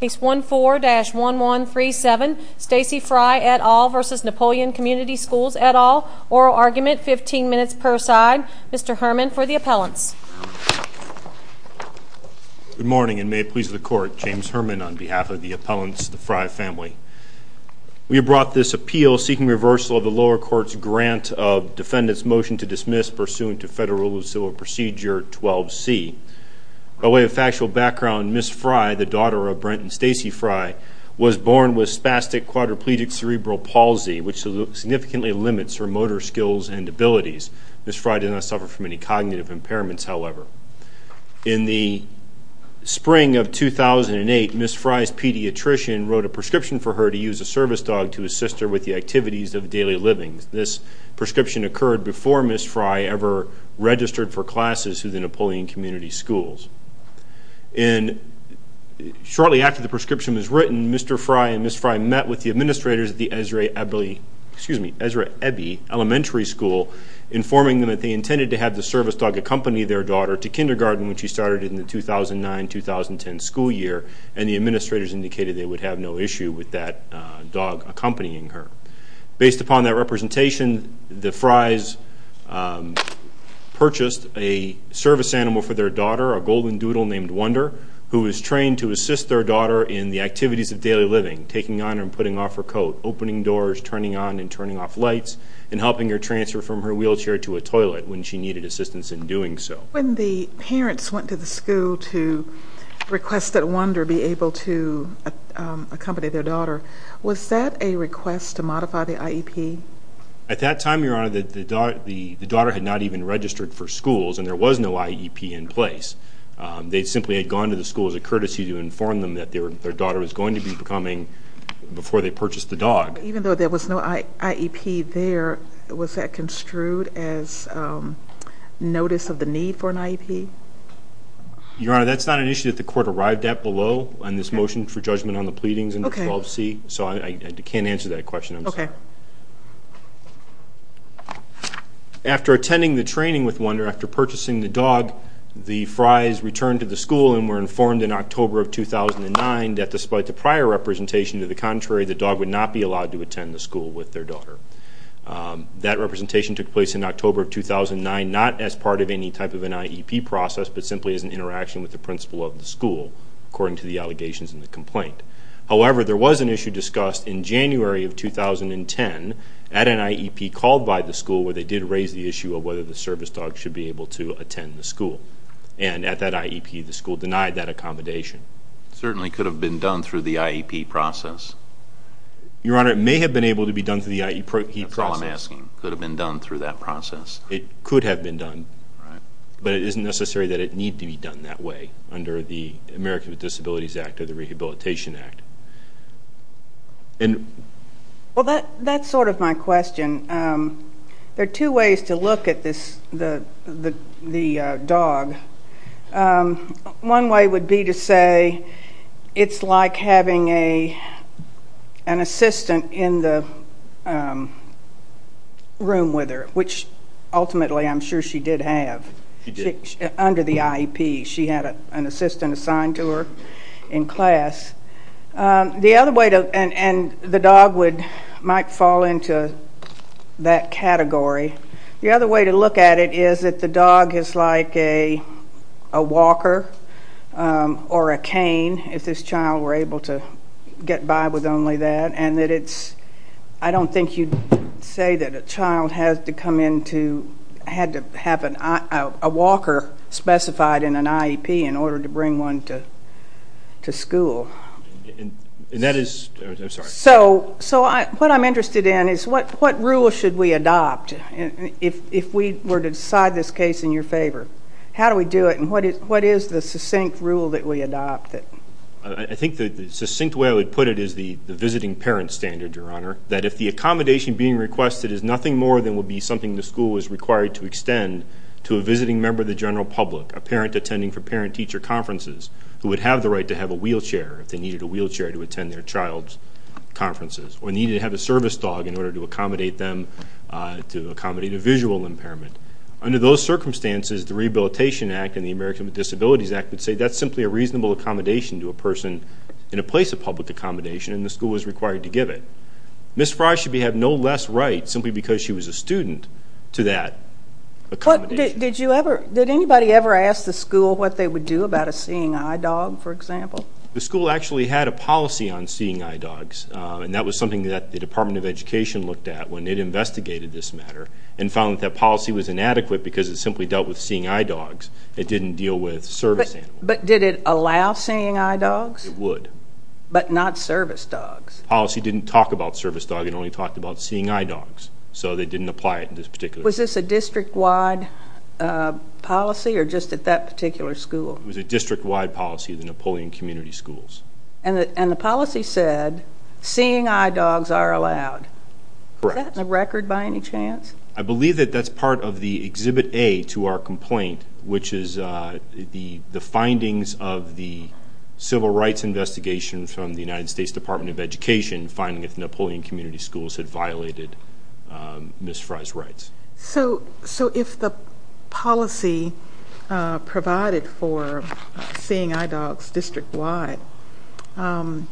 Case 14-1137, Stacey Fry et al. v. Napoleon Community Schools et al. Oral argument, 15 minutes per side. Mr. Herman for the appellants. Good morning and may it please the Court. James Herman on behalf of the appellants of the Fry family. We have brought this appeal seeking reversal of the lower court's grant of defendant's motion to dismiss pursuant to Federal Rule of Civil Procedure 12C. By way of factual background, Ms. Fry, the daughter of Brent and Stacey Fry, was born with spastic quadriplegic cerebral palsy, which significantly limits her motor skills and abilities. Ms. Fry did not suffer from any cognitive impairments, however. In the spring of 2008, Ms. Fry's pediatrician wrote a prescription for her to use a service dog to assist her with the activities of daily living. This prescription occurred before Ms. Fry ever registered for classes through the Napoleon Community Schools. Shortly after the prescription was written, Mr. Fry and Ms. Fry met with the administrators at the Ezra Ebbey Elementary School, informing them that they intended to have the service dog accompany their daughter to kindergarten when she started in the 2009-2010 school year, and the administrators indicated they would have no issue with that dog accompanying her. Based upon that representation, the Frys purchased a service animal for their daughter, a golden doodle named Wonder, who was trained to assist their daughter in the activities of daily living, taking on and putting off her coat, opening doors, turning on and turning off lights, and helping her transfer from her wheelchair to a toilet when she needed assistance in doing so. When the parents went to the school to request that Wonder be able to accompany their daughter, was that a request to modify the IEP? At that time, Your Honor, the daughter had not even registered for schools and there was no IEP in place. They simply had gone to the school as a courtesy to inform them that their daughter was going to be coming before they purchased the dog. Even though there was no IEP there, was that construed as notice of the need for an IEP? Your Honor, that's not an issue that the court arrived at below on this motion for judgment on the pleadings under 12C, so I can't answer that question, I'm sorry. After attending the training with Wonder, after purchasing the dog, the Frys returned to the school and were informed in October of 2009 that despite the prior representation, to the contrary, the dog would not be allowed to attend the school with their daughter. That representation took place in October of 2009, not as part of any type of an IEP process, but simply as an interaction with the principal of the school, according to the allegations in the complaint. However, there was an issue discussed in January of 2010 at an IEP called by the school where they did raise the issue of whether the service dog should be able to attend the school. And at that IEP, the school denied that accommodation. It certainly could have been done through the IEP process. Your Honor, it may have been able to be done through the IEP process. That's all I'm asking, could have been done through that process. It could have been done. But it isn't necessary that it need to be done that way under the Americans with Disabilities Act or the Rehabilitation Act. Well, that's sort of my question. There are two ways to look at the dog. One way would be to say it's like having an assistant in the room with her, which ultimately I'm sure she did have under the IEP. She had an assistant assigned to her in class. And the dog might fall into that category. The other way to look at it is that the dog is like a walker or a cane, if this child were able to get by with only that. I don't think you'd say that a child had to have a walker specified in an IEP in order to bring one to school. So what I'm interested in is what rule should we adopt if we were to decide this case in your favor? How do we do it and what is the succinct rule that we adopt? I think the succinct way I would put it is the visiting parent standard, Your Honor, that if the accommodation being requested is nothing more than would be something the school was required to extend to a visiting member of the general public, a parent attending for parent-teacher conferences, who would have the right to have a wheelchair if they needed a wheelchair to attend their child's conferences, or needed to have a service dog in order to accommodate them to accommodate a visual impairment. Under those circumstances, the Rehabilitation Act and the Americans with Disabilities Act would say that's simply a reasonable accommodation to a person in a place of public accommodation, and the school was required to give it. Ms. Fry should have no less right, simply because she was a student, to that accommodation. Did anybody ever ask the school what they would do about a seeing-eye dog, for example? The school actually had a policy on seeing-eye dogs, and that was something that the Department of Education looked at when it investigated this matter and found that that policy was inadequate because it simply dealt with seeing-eye dogs. It didn't deal with service animals. But did it allow seeing-eye dogs? It would. But not service dogs. The policy didn't talk about service dogs, it only talked about seeing-eye dogs, so they didn't apply it in this particular case. Was this a district-wide policy, or just at that particular school? It was a district-wide policy at the Napoleon Community Schools. And the policy said seeing-eye dogs are allowed. Correct. Is that in the record by any chance? I believe that that's part of the Exhibit A to our complaint, which is the findings of the civil rights investigation from the United States Department of Education finding that the Napoleon Community Schools had violated Ms. Fry's rights. So if the policy provided for seeing-eye dogs district-wide, and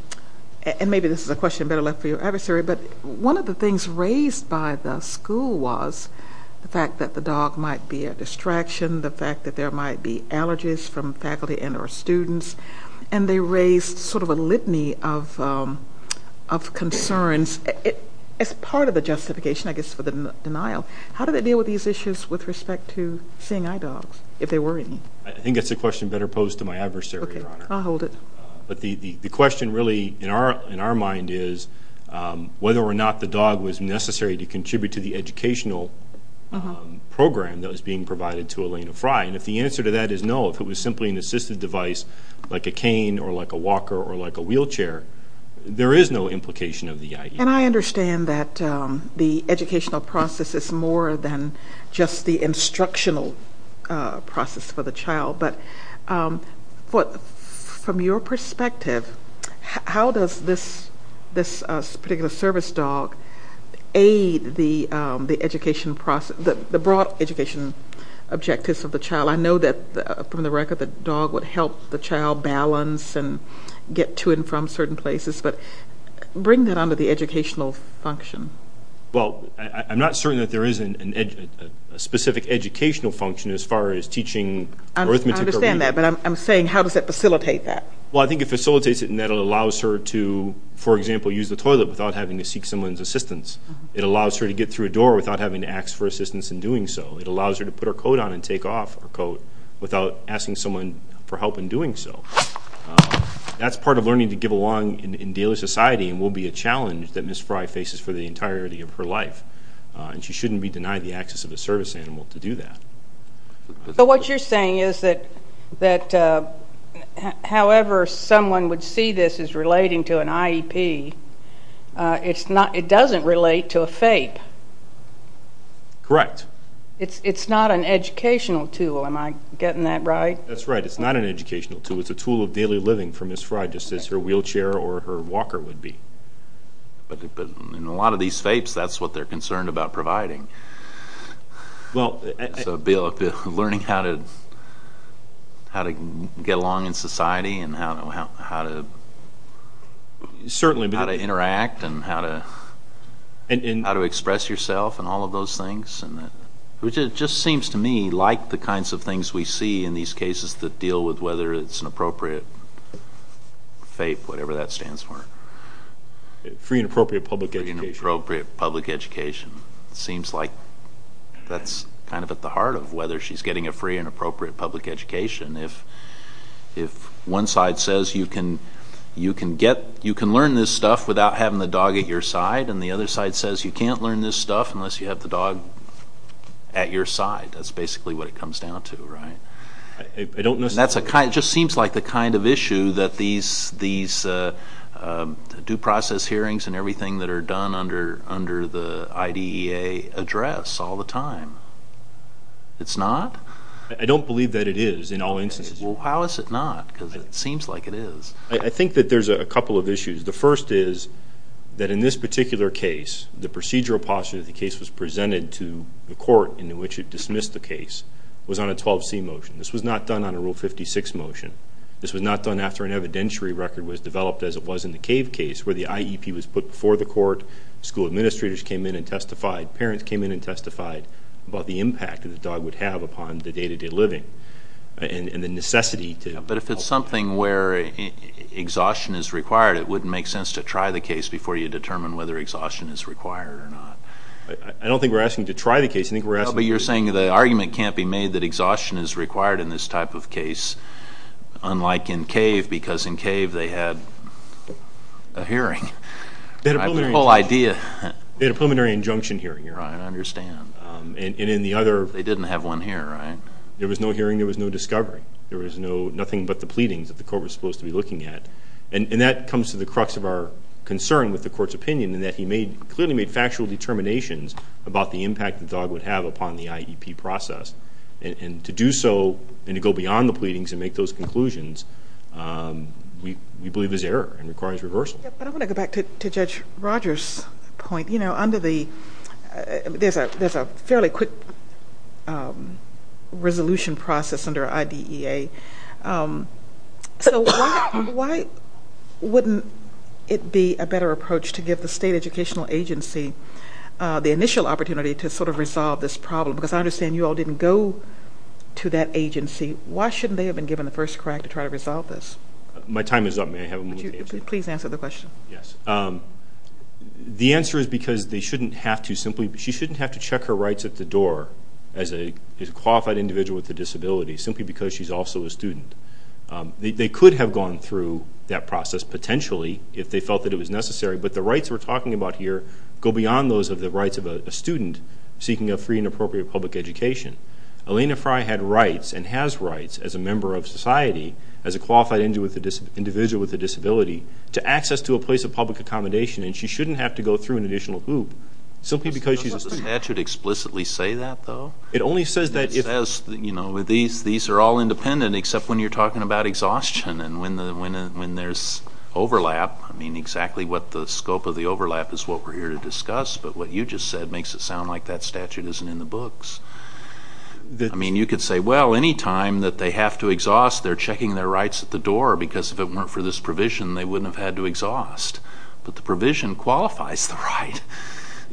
maybe this is a question better left for your adversary, but one of the things raised by the school was the fact that the dog might be a distraction, the fact that there might be allergies from faculty and or students, and they raised sort of a litany of concerns. As part of the justification, I guess, for the denial, how do they deal with these issues with respect to seeing-eye dogs, if they were any? I think that's a question better posed to my adversary, Your Honor. Okay, I'll hold it. But the question really in our mind is whether or not the dog was necessary to contribute to the educational program that was being provided to Elena Fry. And if the answer to that is no, if it was simply an assisted device like a cane or like a walker or like a wheelchair, there is no implication of the idea. And I understand that the educational process is more than just the instructional process for the child. But from your perspective, how does this particular service dog aid the education process, the broad education objectives of the child? I know that, from the record, the dog would help the child balance and get to and from certain places. But bring that onto the educational function. Well, I'm not certain that there is a specific educational function as far as teaching arithmetic or reading. I understand that, but I'm saying how does that facilitate that? Well, I think it facilitates it in that it allows her to, for example, use the toilet without having to seek someone's assistance. It allows her to get through a door without having to ask for assistance in doing so. It allows her to put her coat on and take off her coat without asking someone for help in doing so. That's part of learning to give along in daily society and will be a challenge that Ms. Frye faces for the entirety of her life. And she shouldn't be denied the access of a service animal to do that. But what you're saying is that however someone would see this as relating to an IEP, it doesn't relate to a FAPE. Correct. It's not an educational tool. Am I getting that right? That's right. It's not an educational tool. It's a tool of daily living for Ms. Frye, just as her wheelchair or her walker would be. But in a lot of these FAPEs, that's what they're concerned about providing. So, Bill, learning how to get along in society and how to interact and how to express yourself and all of those things, which it just seems to me like the kinds of things we see in these cases that deal with whether it's an appropriate FAPE, whatever that stands for. Free and appropriate public education. Free and appropriate public education. It seems like that's kind of at the heart of whether she's getting a free and appropriate public education. If one side says you can learn this stuff without having the dog at your side and the other side says you can't learn this stuff unless you have the dog at your side, that's basically what it comes down to, right? It just seems like the kind of issue that these due process hearings and everything that are done under the IDEA address all the time. It's not? I don't believe that it is in all instances. Well, how is it not? Because it seems like it is. I think that there's a couple of issues. The first is that in this particular case, the procedural posture that the case was presented to the court in which it dismissed the case was on a 12C motion. This was not done on a Rule 56 motion. This was not done after an evidentiary record was developed as it was in the Cave case where the IEP was put before the court, school administrators came in and testified, parents came in and testified about the impact that the dog would have upon the day-to-day living and the necessity to help. But if it's something where exhaustion is required, it wouldn't make sense to try the case before you determine whether exhaustion is required or not. I don't think we're asking you to try the case. No, but you're saying the argument can't be made that exhaustion is required in this type of case, unlike in Cave because in Cave they had a hearing. They had a preliminary injunction hearing. Right, I understand. They didn't have one here, right? There was no hearing. There was no discovery. There was nothing but the pleadings that the court was supposed to be looking at. And that comes to the crux of our concern with the court's opinion in that he clearly made factual determinations about the impact the dog would have upon the IEP process. And to do so and to go beyond the pleadings and make those conclusions, we believe is error and requires reversal. There's a fairly quick resolution process under IDEA. So why wouldn't it be a better approach to give the state educational agency the initial opportunity to sort of resolve this problem? Because I understand you all didn't go to that agency. Why shouldn't they have been given the first crack to try to resolve this? My time is up. May I have a moment to answer? Please answer the question. Yes. The answer is because they shouldn't have to simply check her rights at the door as a qualified individual with a disability simply because she's also a student. They could have gone through that process potentially if they felt that it was necessary, but the rights we're talking about here go beyond those of the rights of a student seeking a free and appropriate public education. Elena Fry had rights and has rights as a member of society as a qualified individual with a disability to access to a place of public accommodation, and she shouldn't have to go through an additional hoop simply because she's a student. Does the statute explicitly say that, though? It only says that if... It says, you know, these are all independent except when you're talking about exhaustion and when there's overlap. I mean, exactly what the scope of the overlap is what we're here to discuss, but what you just said makes it sound like that statute isn't in the books. I mean, you could say, well, any time that they have to exhaust, they're checking their rights at the door because if it weren't for this provision, they wouldn't have had to exhaust. But the provision qualifies the right.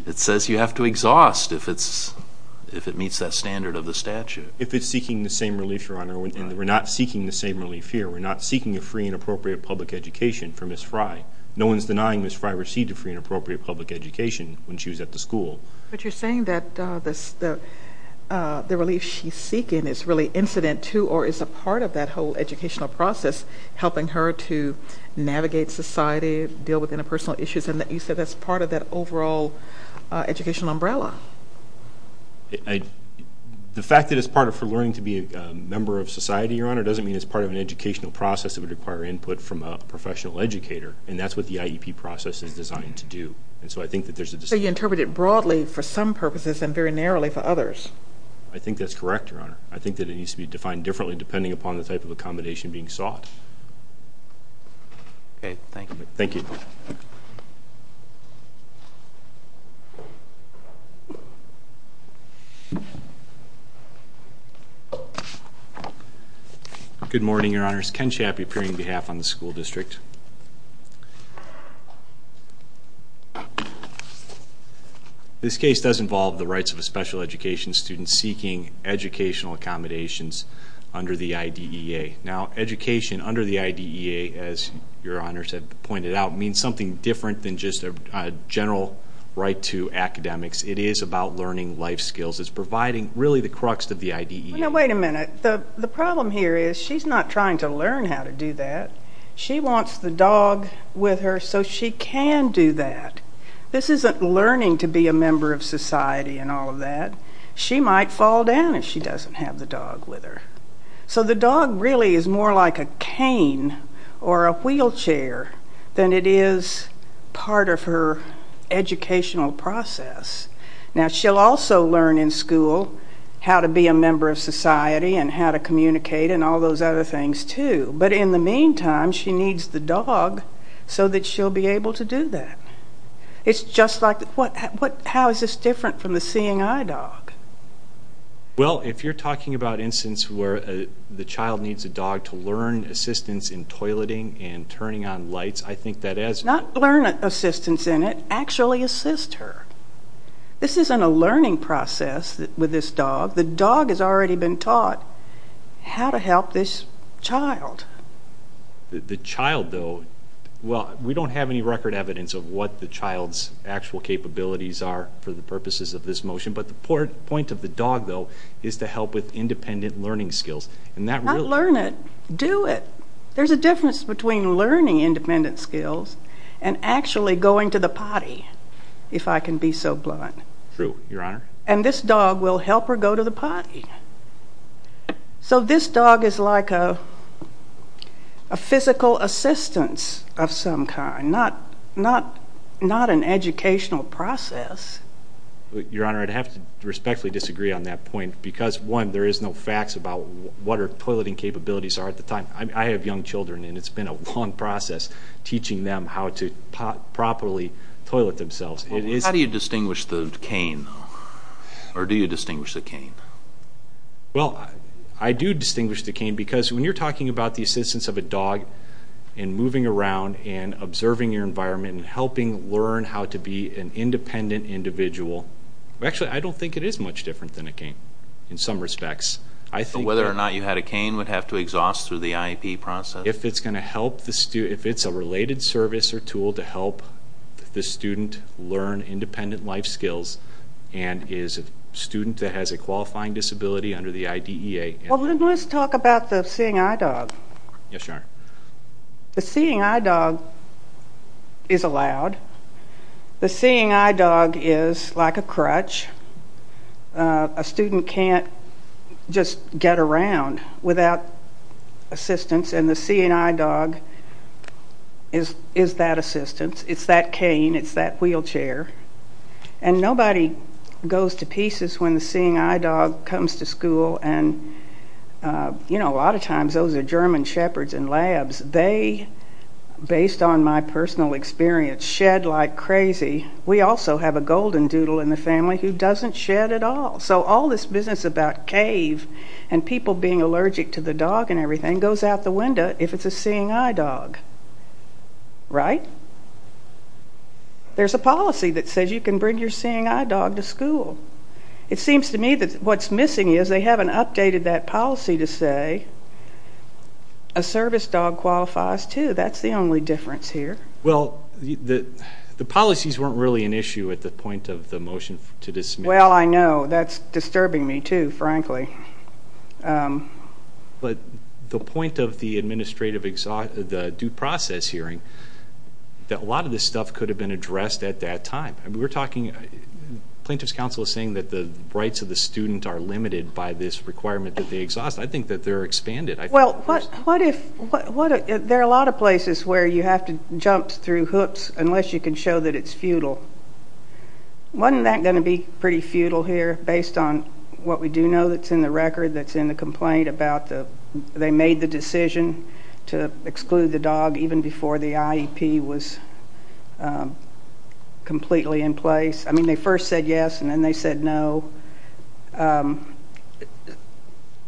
It says you have to exhaust if it meets that standard of the statute. If it's seeking the same relief, Your Honor, and we're not seeking the same relief here. We're not seeking a free and appropriate public education for Ms. Fry. No one is denying Ms. Fry received a free and appropriate public education when she was at the school. But you're saying that the relief she's seeking is really incident to or is a part of that whole educational process, helping her to navigate society, deal with interpersonal issues, and you said that's part of that overall educational umbrella. The fact that it's part of her learning to be a member of society, Your Honor, doesn't mean it's part of an educational process that would require input from a professional educator, and that's what the IEP process is designed to do. So you interpret it broadly for some purposes and very narrowly for others. I think that's correct, Your Honor. I think that it needs to be defined differently depending upon the type of accommodation being sought. Okay, thank you. Thank you. Good morning, Your Honors. Ken Chappie appearing on behalf of the school district. This case does involve the rights of a special education student seeking educational accommodations under the IDEA. Now, education under the IDEA, as Your Honors have pointed out, means something different than just a general right to academics. It is about learning life skills. It's providing really the crux of the IDEA. Now, wait a minute. The problem here is she's not trying to learn how to do that. She wants the dog with her so she can do that. This isn't learning to be a member of society and all of that. She might fall down if she doesn't have the dog with her. So the dog really is more like a cane or a wheelchair than it is part of her educational process. Now, she'll also learn in school how to be a member of society and how to communicate and all those other things, too. But in the meantime, she needs the dog so that she'll be able to do that. It's just like, how is this different from the seeing-eye dog? Well, if you're talking about instances where the child needs a dog to learn assistance in toileting and turning on lights, I think that is... Not learn assistance in it. Actually assist her. This isn't a learning process with this dog. The dog has already been taught how to help this child. The child, though... Well, we don't have any record evidence of what the child's actual capabilities are for the purposes of this motion, but the point of the dog, though, is to help with independent learning skills. Not learn it. Do it. There's a difference between learning independent skills and actually going to the potty, if I can be so blunt. True, Your Honor. And this dog will help her go to the potty. So this dog is like a physical assistance of some kind, not an educational process. Your Honor, I'd have to respectfully disagree on that point because, one, there is no facts about what her toileting capabilities are at the time. I have young children, and it's been a long process teaching them how to properly toilet themselves. How do you distinguish the cane, though? Or do you distinguish the cane? Well, I do distinguish the cane because when you're talking about the assistance of a dog in moving around and observing your environment and helping learn how to be an independent individual... Actually, I don't think it is much different than a cane in some respects. But whether or not you had a cane would have to exhaust through the IEP process? If it's a related service or tool to help the student learn independent life skills and is a student that has a qualifying disability under the IDEA... Well, let's talk about the seeing-eye dog. Yes, Your Honor. The seeing-eye dog is allowed. The seeing-eye dog is like a crutch. A student can't just get around without assistance. And the seeing-eye dog is that assistance. It's that cane. It's that wheelchair. And nobody goes to pieces when the seeing-eye dog comes to school. And a lot of times those are German shepherds in labs. They, based on my personal experience, shed like crazy. We also have a golden doodle in the family who doesn't shed at all. So all this business about cave and people being allergic to the dog and everything goes out the window if it's a seeing-eye dog. Right? There's a policy that says you can bring your seeing-eye dog to school. It seems to me that what's missing is they haven't updated that policy to say a service dog qualifies too. That's the only difference here. Well, the policies weren't really an issue at the point of the motion to dismiss. Well, I know. That's disturbing me too, frankly. But the point of the administrative, the due process hearing, that a lot of this stuff could have been addressed at that time. Plaintiff's counsel is saying that the rights of the student are limited by this requirement that they exhaust. I think that they're expanded. Well, there are a lot of places where you have to jump through hooks unless you can show that it's futile. Wasn't that going to be pretty futile here based on what we do know that's in the record, that's in the complaint about they made the decision to exclude the dog even before the IEP was completely in place? I mean, they first said yes, and then they said no.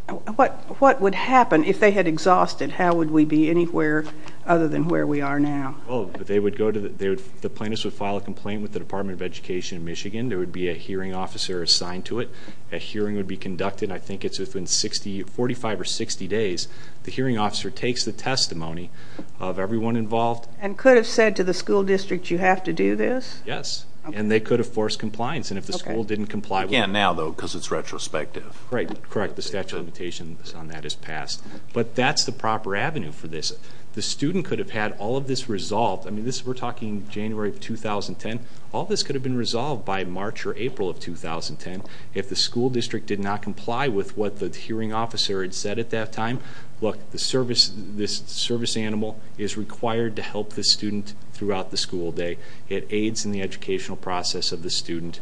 What would happen if they had exhausted? How would we be anywhere other than where we are now? Well, the plaintiffs would file a complaint with the Department of Education of Michigan. There would be a hearing officer assigned to it. A hearing would be conducted. I think it's within 45 or 60 days. The hearing officer takes the testimony of everyone involved. And could have said to the school district, you have to do this? Yes, and they could have forced compliance. And if the school didn't comply with it. You can't now, though, because it's retrospective. Right, correct. The statute of limitations on that is passed. But that's the proper avenue for this. The student could have had all of this resolved. I mean, we're talking January of 2010. All this could have been resolved by March or April of 2010. If the school district did not comply with what the hearing officer had said at that time, look, this service animal is required to help the student throughout the school day. It aids in the educational process of the student.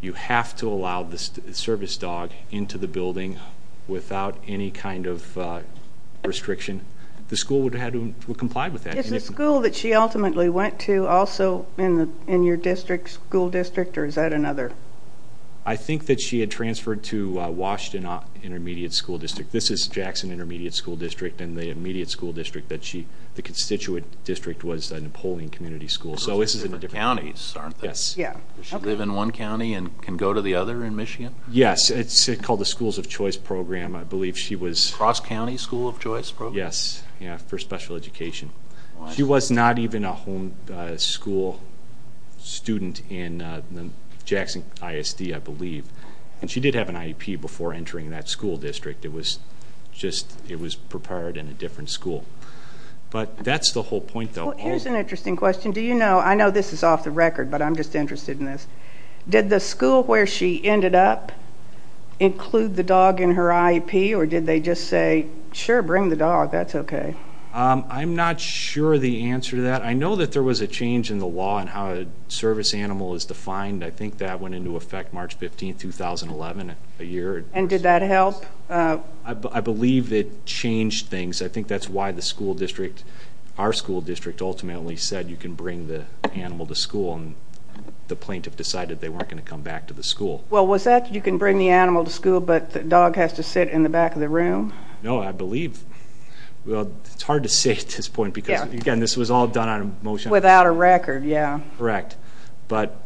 You have to allow the service dog into the building without any kind of restriction. The school would have to comply with that. Is the school that she ultimately went to also in your school district? Or is that another? I think that she had transferred to Washington Intermediate School District. This is Jackson Intermediate School District. And the immediate school district, the constituent district, was Napoleon Community School. Those are different counties, aren't they? Yes. Does she live in one county and can go to the other in Michigan? Yes. It's called the Schools of Choice Program. I believe she was. Cross County School of Choice Program? Yes, for special education. She was not even a home school student in the Jackson ISD, I believe. And she did have an IEP before entering that school district. It was prepared in a different school. But that's the whole point, though. Here's an interesting question. Do you know? I know this is off the record, but I'm just interested in this. Did the school where she ended up include the dog in her IEP? Or did they just say, sure, bring the dog, that's okay? I'm not sure the answer to that. I know that there was a change in the law on how a service animal is defined. I think that went into effect March 15, 2011, a year. And did that help? I believe it changed things. I think that's why the school district, our school district, ultimately said you can bring the animal to school. And the plaintiff decided they weren't going to come back to the school. Well, was that you can bring the animal to school, but the dog has to sit in the back of the room? No, I believe. Well, it's hard to say at this point because, again, this was all done on a motion. Without a record, yeah. Correct. But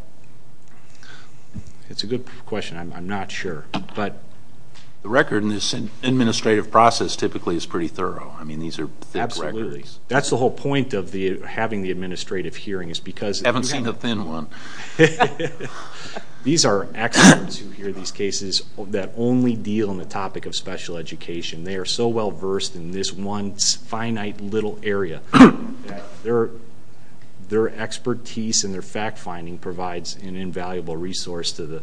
it's a good question. I'm not sure. The record in this administrative process, typically, is pretty thorough. I mean, these are thick records. Absolutely. That's the whole point of having the administrative hearing is because you have to. I haven't seen the thin one. These are experts who hear these cases that only deal on the topic of special education. They are so well-versed in this one finite little area that their expertise and their fact-finding provides an invaluable resource to the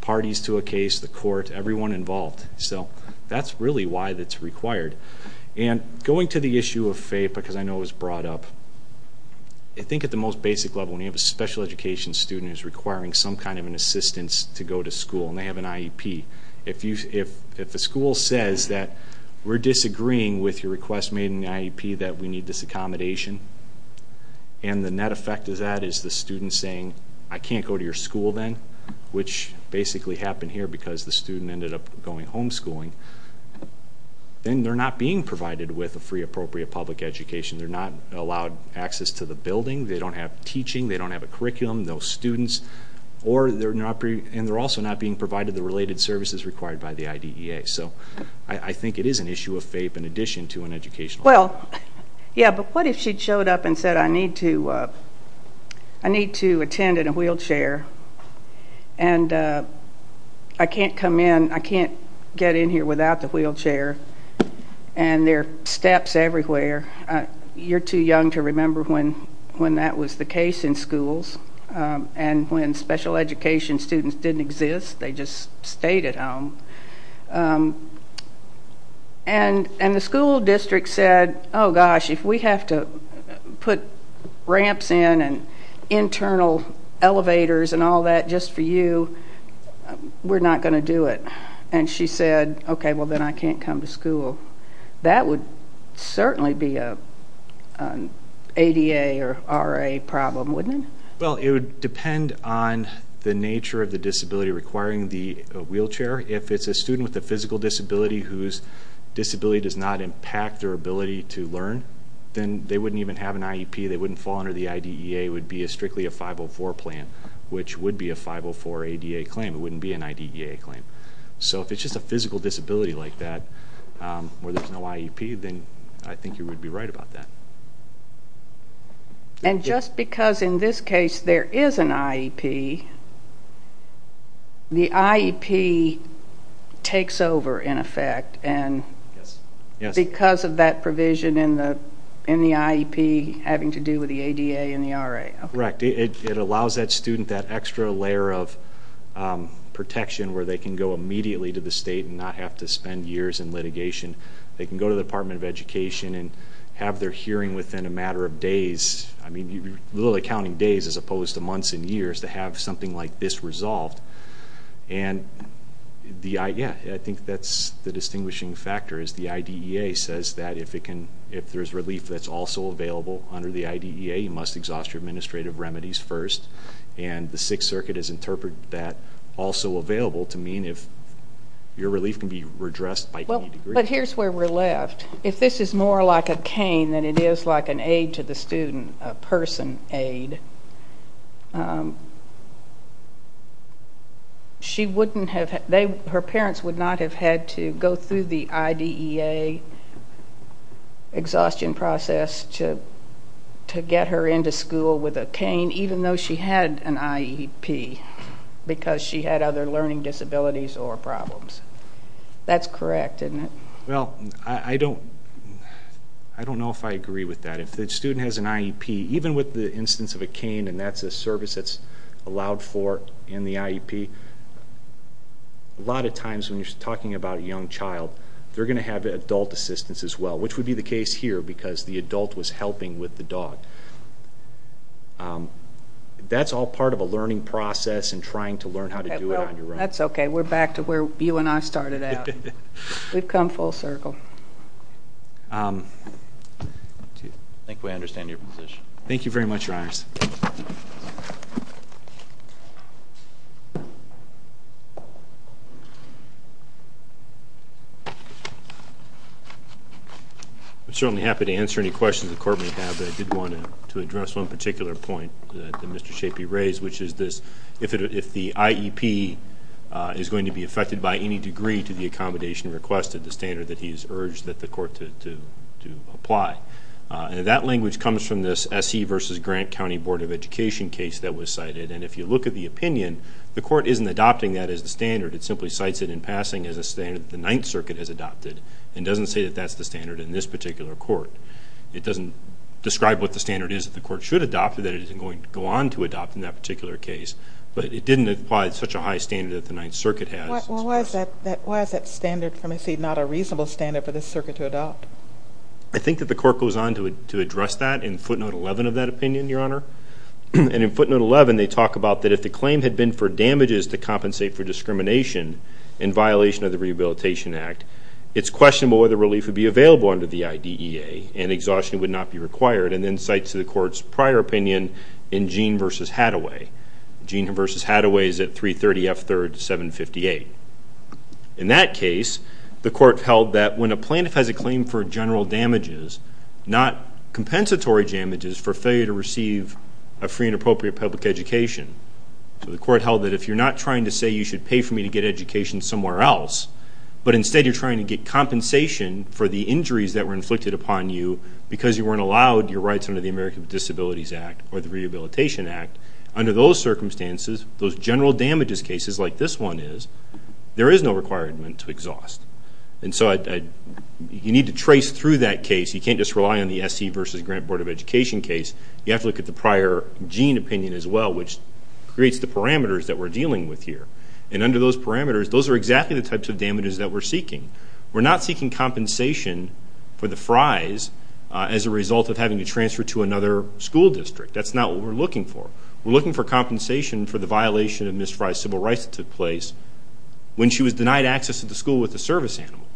parties to a case, the court, everyone involved. So that's really why it's required. And going to the issue of FAPE, because I know it was brought up, I think at the most basic level, when you have a special education student who's requiring some kind of an assistance to go to school and they have an IEP, if the school says that we're disagreeing with your request made in the IEP that we need this accommodation and the net effect of that is the student saying, I can't go to your school then, which basically happened here because the student ended up going homeschooling, then they're not being provided with a free appropriate public education. They're not allowed access to the building. They don't have teaching. They don't have a curriculum. Those students, and they're also not being provided the related services required by the IDEA. So I think it is an issue of FAPE in addition to an educational requirement. Well, yeah, but what if she showed up and said I need to attend in a wheelchair and I can't come in, I can't get in here without the wheelchair and there are steps everywhere. You're too young to remember when that was the case in schools and when special education students didn't exist, they just stayed at home. And the school district said, oh gosh, if we have to put ramps in and internal elevators and all that just for you, we're not going to do it. And she said, okay, well then I can't come to school. That would certainly be an ADA or RA problem, wouldn't it? Well, it would depend on the nature of the disability requiring the wheelchair. If it's a student with a physical disability whose disability does not impact their ability to learn, then they wouldn't even have an IEP. They wouldn't fall under the IDEA. It would be strictly a 504 plan, which would be a 504 ADA claim. It wouldn't be an IDEA claim. So if it's just a physical disability like that where there's no IEP, then I think you would be right about that. And just because in this case there is an IEP, the IEP takes over in effect because of that provision in the IEP having to do with the ADA and the RA. Correct. It allows that student that extra layer of protection where they can go immediately to the state and not have to spend years in litigation. They can go to the Department of Education and have their hearing within a matter of days. I mean, literally counting days as opposed to months and years to have something like this resolved. And, yeah, I think that's the distinguishing factor is the IDEA says that if there's relief that's also available under the IDEA, you must exhaust your administrative remedies first. And the Sixth Circuit has interpreted that also available to mean if your relief can be redressed by any degree. But here's where we're left. If this is more like a cane than it is like an aid to the student, a person aid, her parents would not have had to go through the IDEA exhaustion process to get her into school with a cane even though she had an IEP because she had other learning disabilities or problems. That's correct, isn't it? Well, I don't know if I agree with that. If the student has an IEP, even with the instance of a cane and that's a service that's allowed for in the IEP, a lot of times when you're talking about a young child, they're going to have adult assistance as well, which would be the case here because the adult was helping with the dog. That's all part of a learning process and trying to learn how to do it on your own. That's okay. We're back to where you and I started out. We've come full circle. I think we understand your position. Thank you very much, Your Honors. I'm certainly happy to answer any questions the Court may have, but I did want to address one particular point that Mr. Shapi raised, which is if the IEP is going to be affected by any degree to the accommodation request at the standard that he has urged that the Court to apply. That language comes from this S.E. v. Grant County Board of Education case that was cited, and if you look at the opinion, the Court isn't adopting that as the standard. It simply cites it in passing as a standard that the Ninth Circuit has adopted and doesn't say that that's the standard in this particular court. It doesn't describe what the standard is that the Court should adopt or that it is going to go on to adopt in that particular case, but it didn't apply such a high standard that the Ninth Circuit has. Well, why is that standard, from what I see, not a reasonable standard for this circuit to adopt? I think that the Court goes on to address that in footnote 11 of that opinion, Your Honor, and in footnote 11 they talk about that if the claim had been for damages to compensate for discrimination in violation of the Rehabilitation Act, it's questionable whether relief would be available under the IDEA and exhaustion would not be required and then cites the Court's prior opinion in Gene v. Hadaway. Gene v. Hadaway is at 330 F. 3rd, 758. In that case, the Court held that when a plaintiff has a claim for general damages, not compensatory damages for failure to receive a free and appropriate public education. So the Court held that if you're not trying to say you should pay for me to get education somewhere else, but instead you're trying to get compensation for the injuries that were inflicted upon you because you weren't allowed your rights under the American Disabilities Act or the Rehabilitation Act, under those circumstances, those general damages cases like this one is, there is no requirement to exhaust. And so you need to trace through that case. You can't just rely on the SE v. Grant Board of Education case. You have to look at the prior Gene opinion as well, which creates the parameters that we're dealing with here. And under those parameters, those are exactly the types of damages that we're seeking. We're not seeking compensation for the Fry's as a result of having to transfer to another school district. That's not what we're looking for. We're looking for compensation for the violation of Ms. Fry's civil rights that took place when she was denied access to the school with a service animal.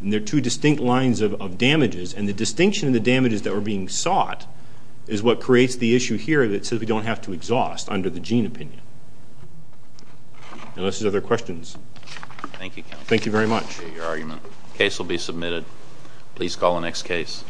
And there are two distinct lines of damages, and the distinction of the damages that were being sought is what creates the issue here that says we don't have to exhaust under the Gene opinion. Unless there's other questions. Thank you, counsel. Thank you very much. Your argument. Case will be submitted. Please call the next case.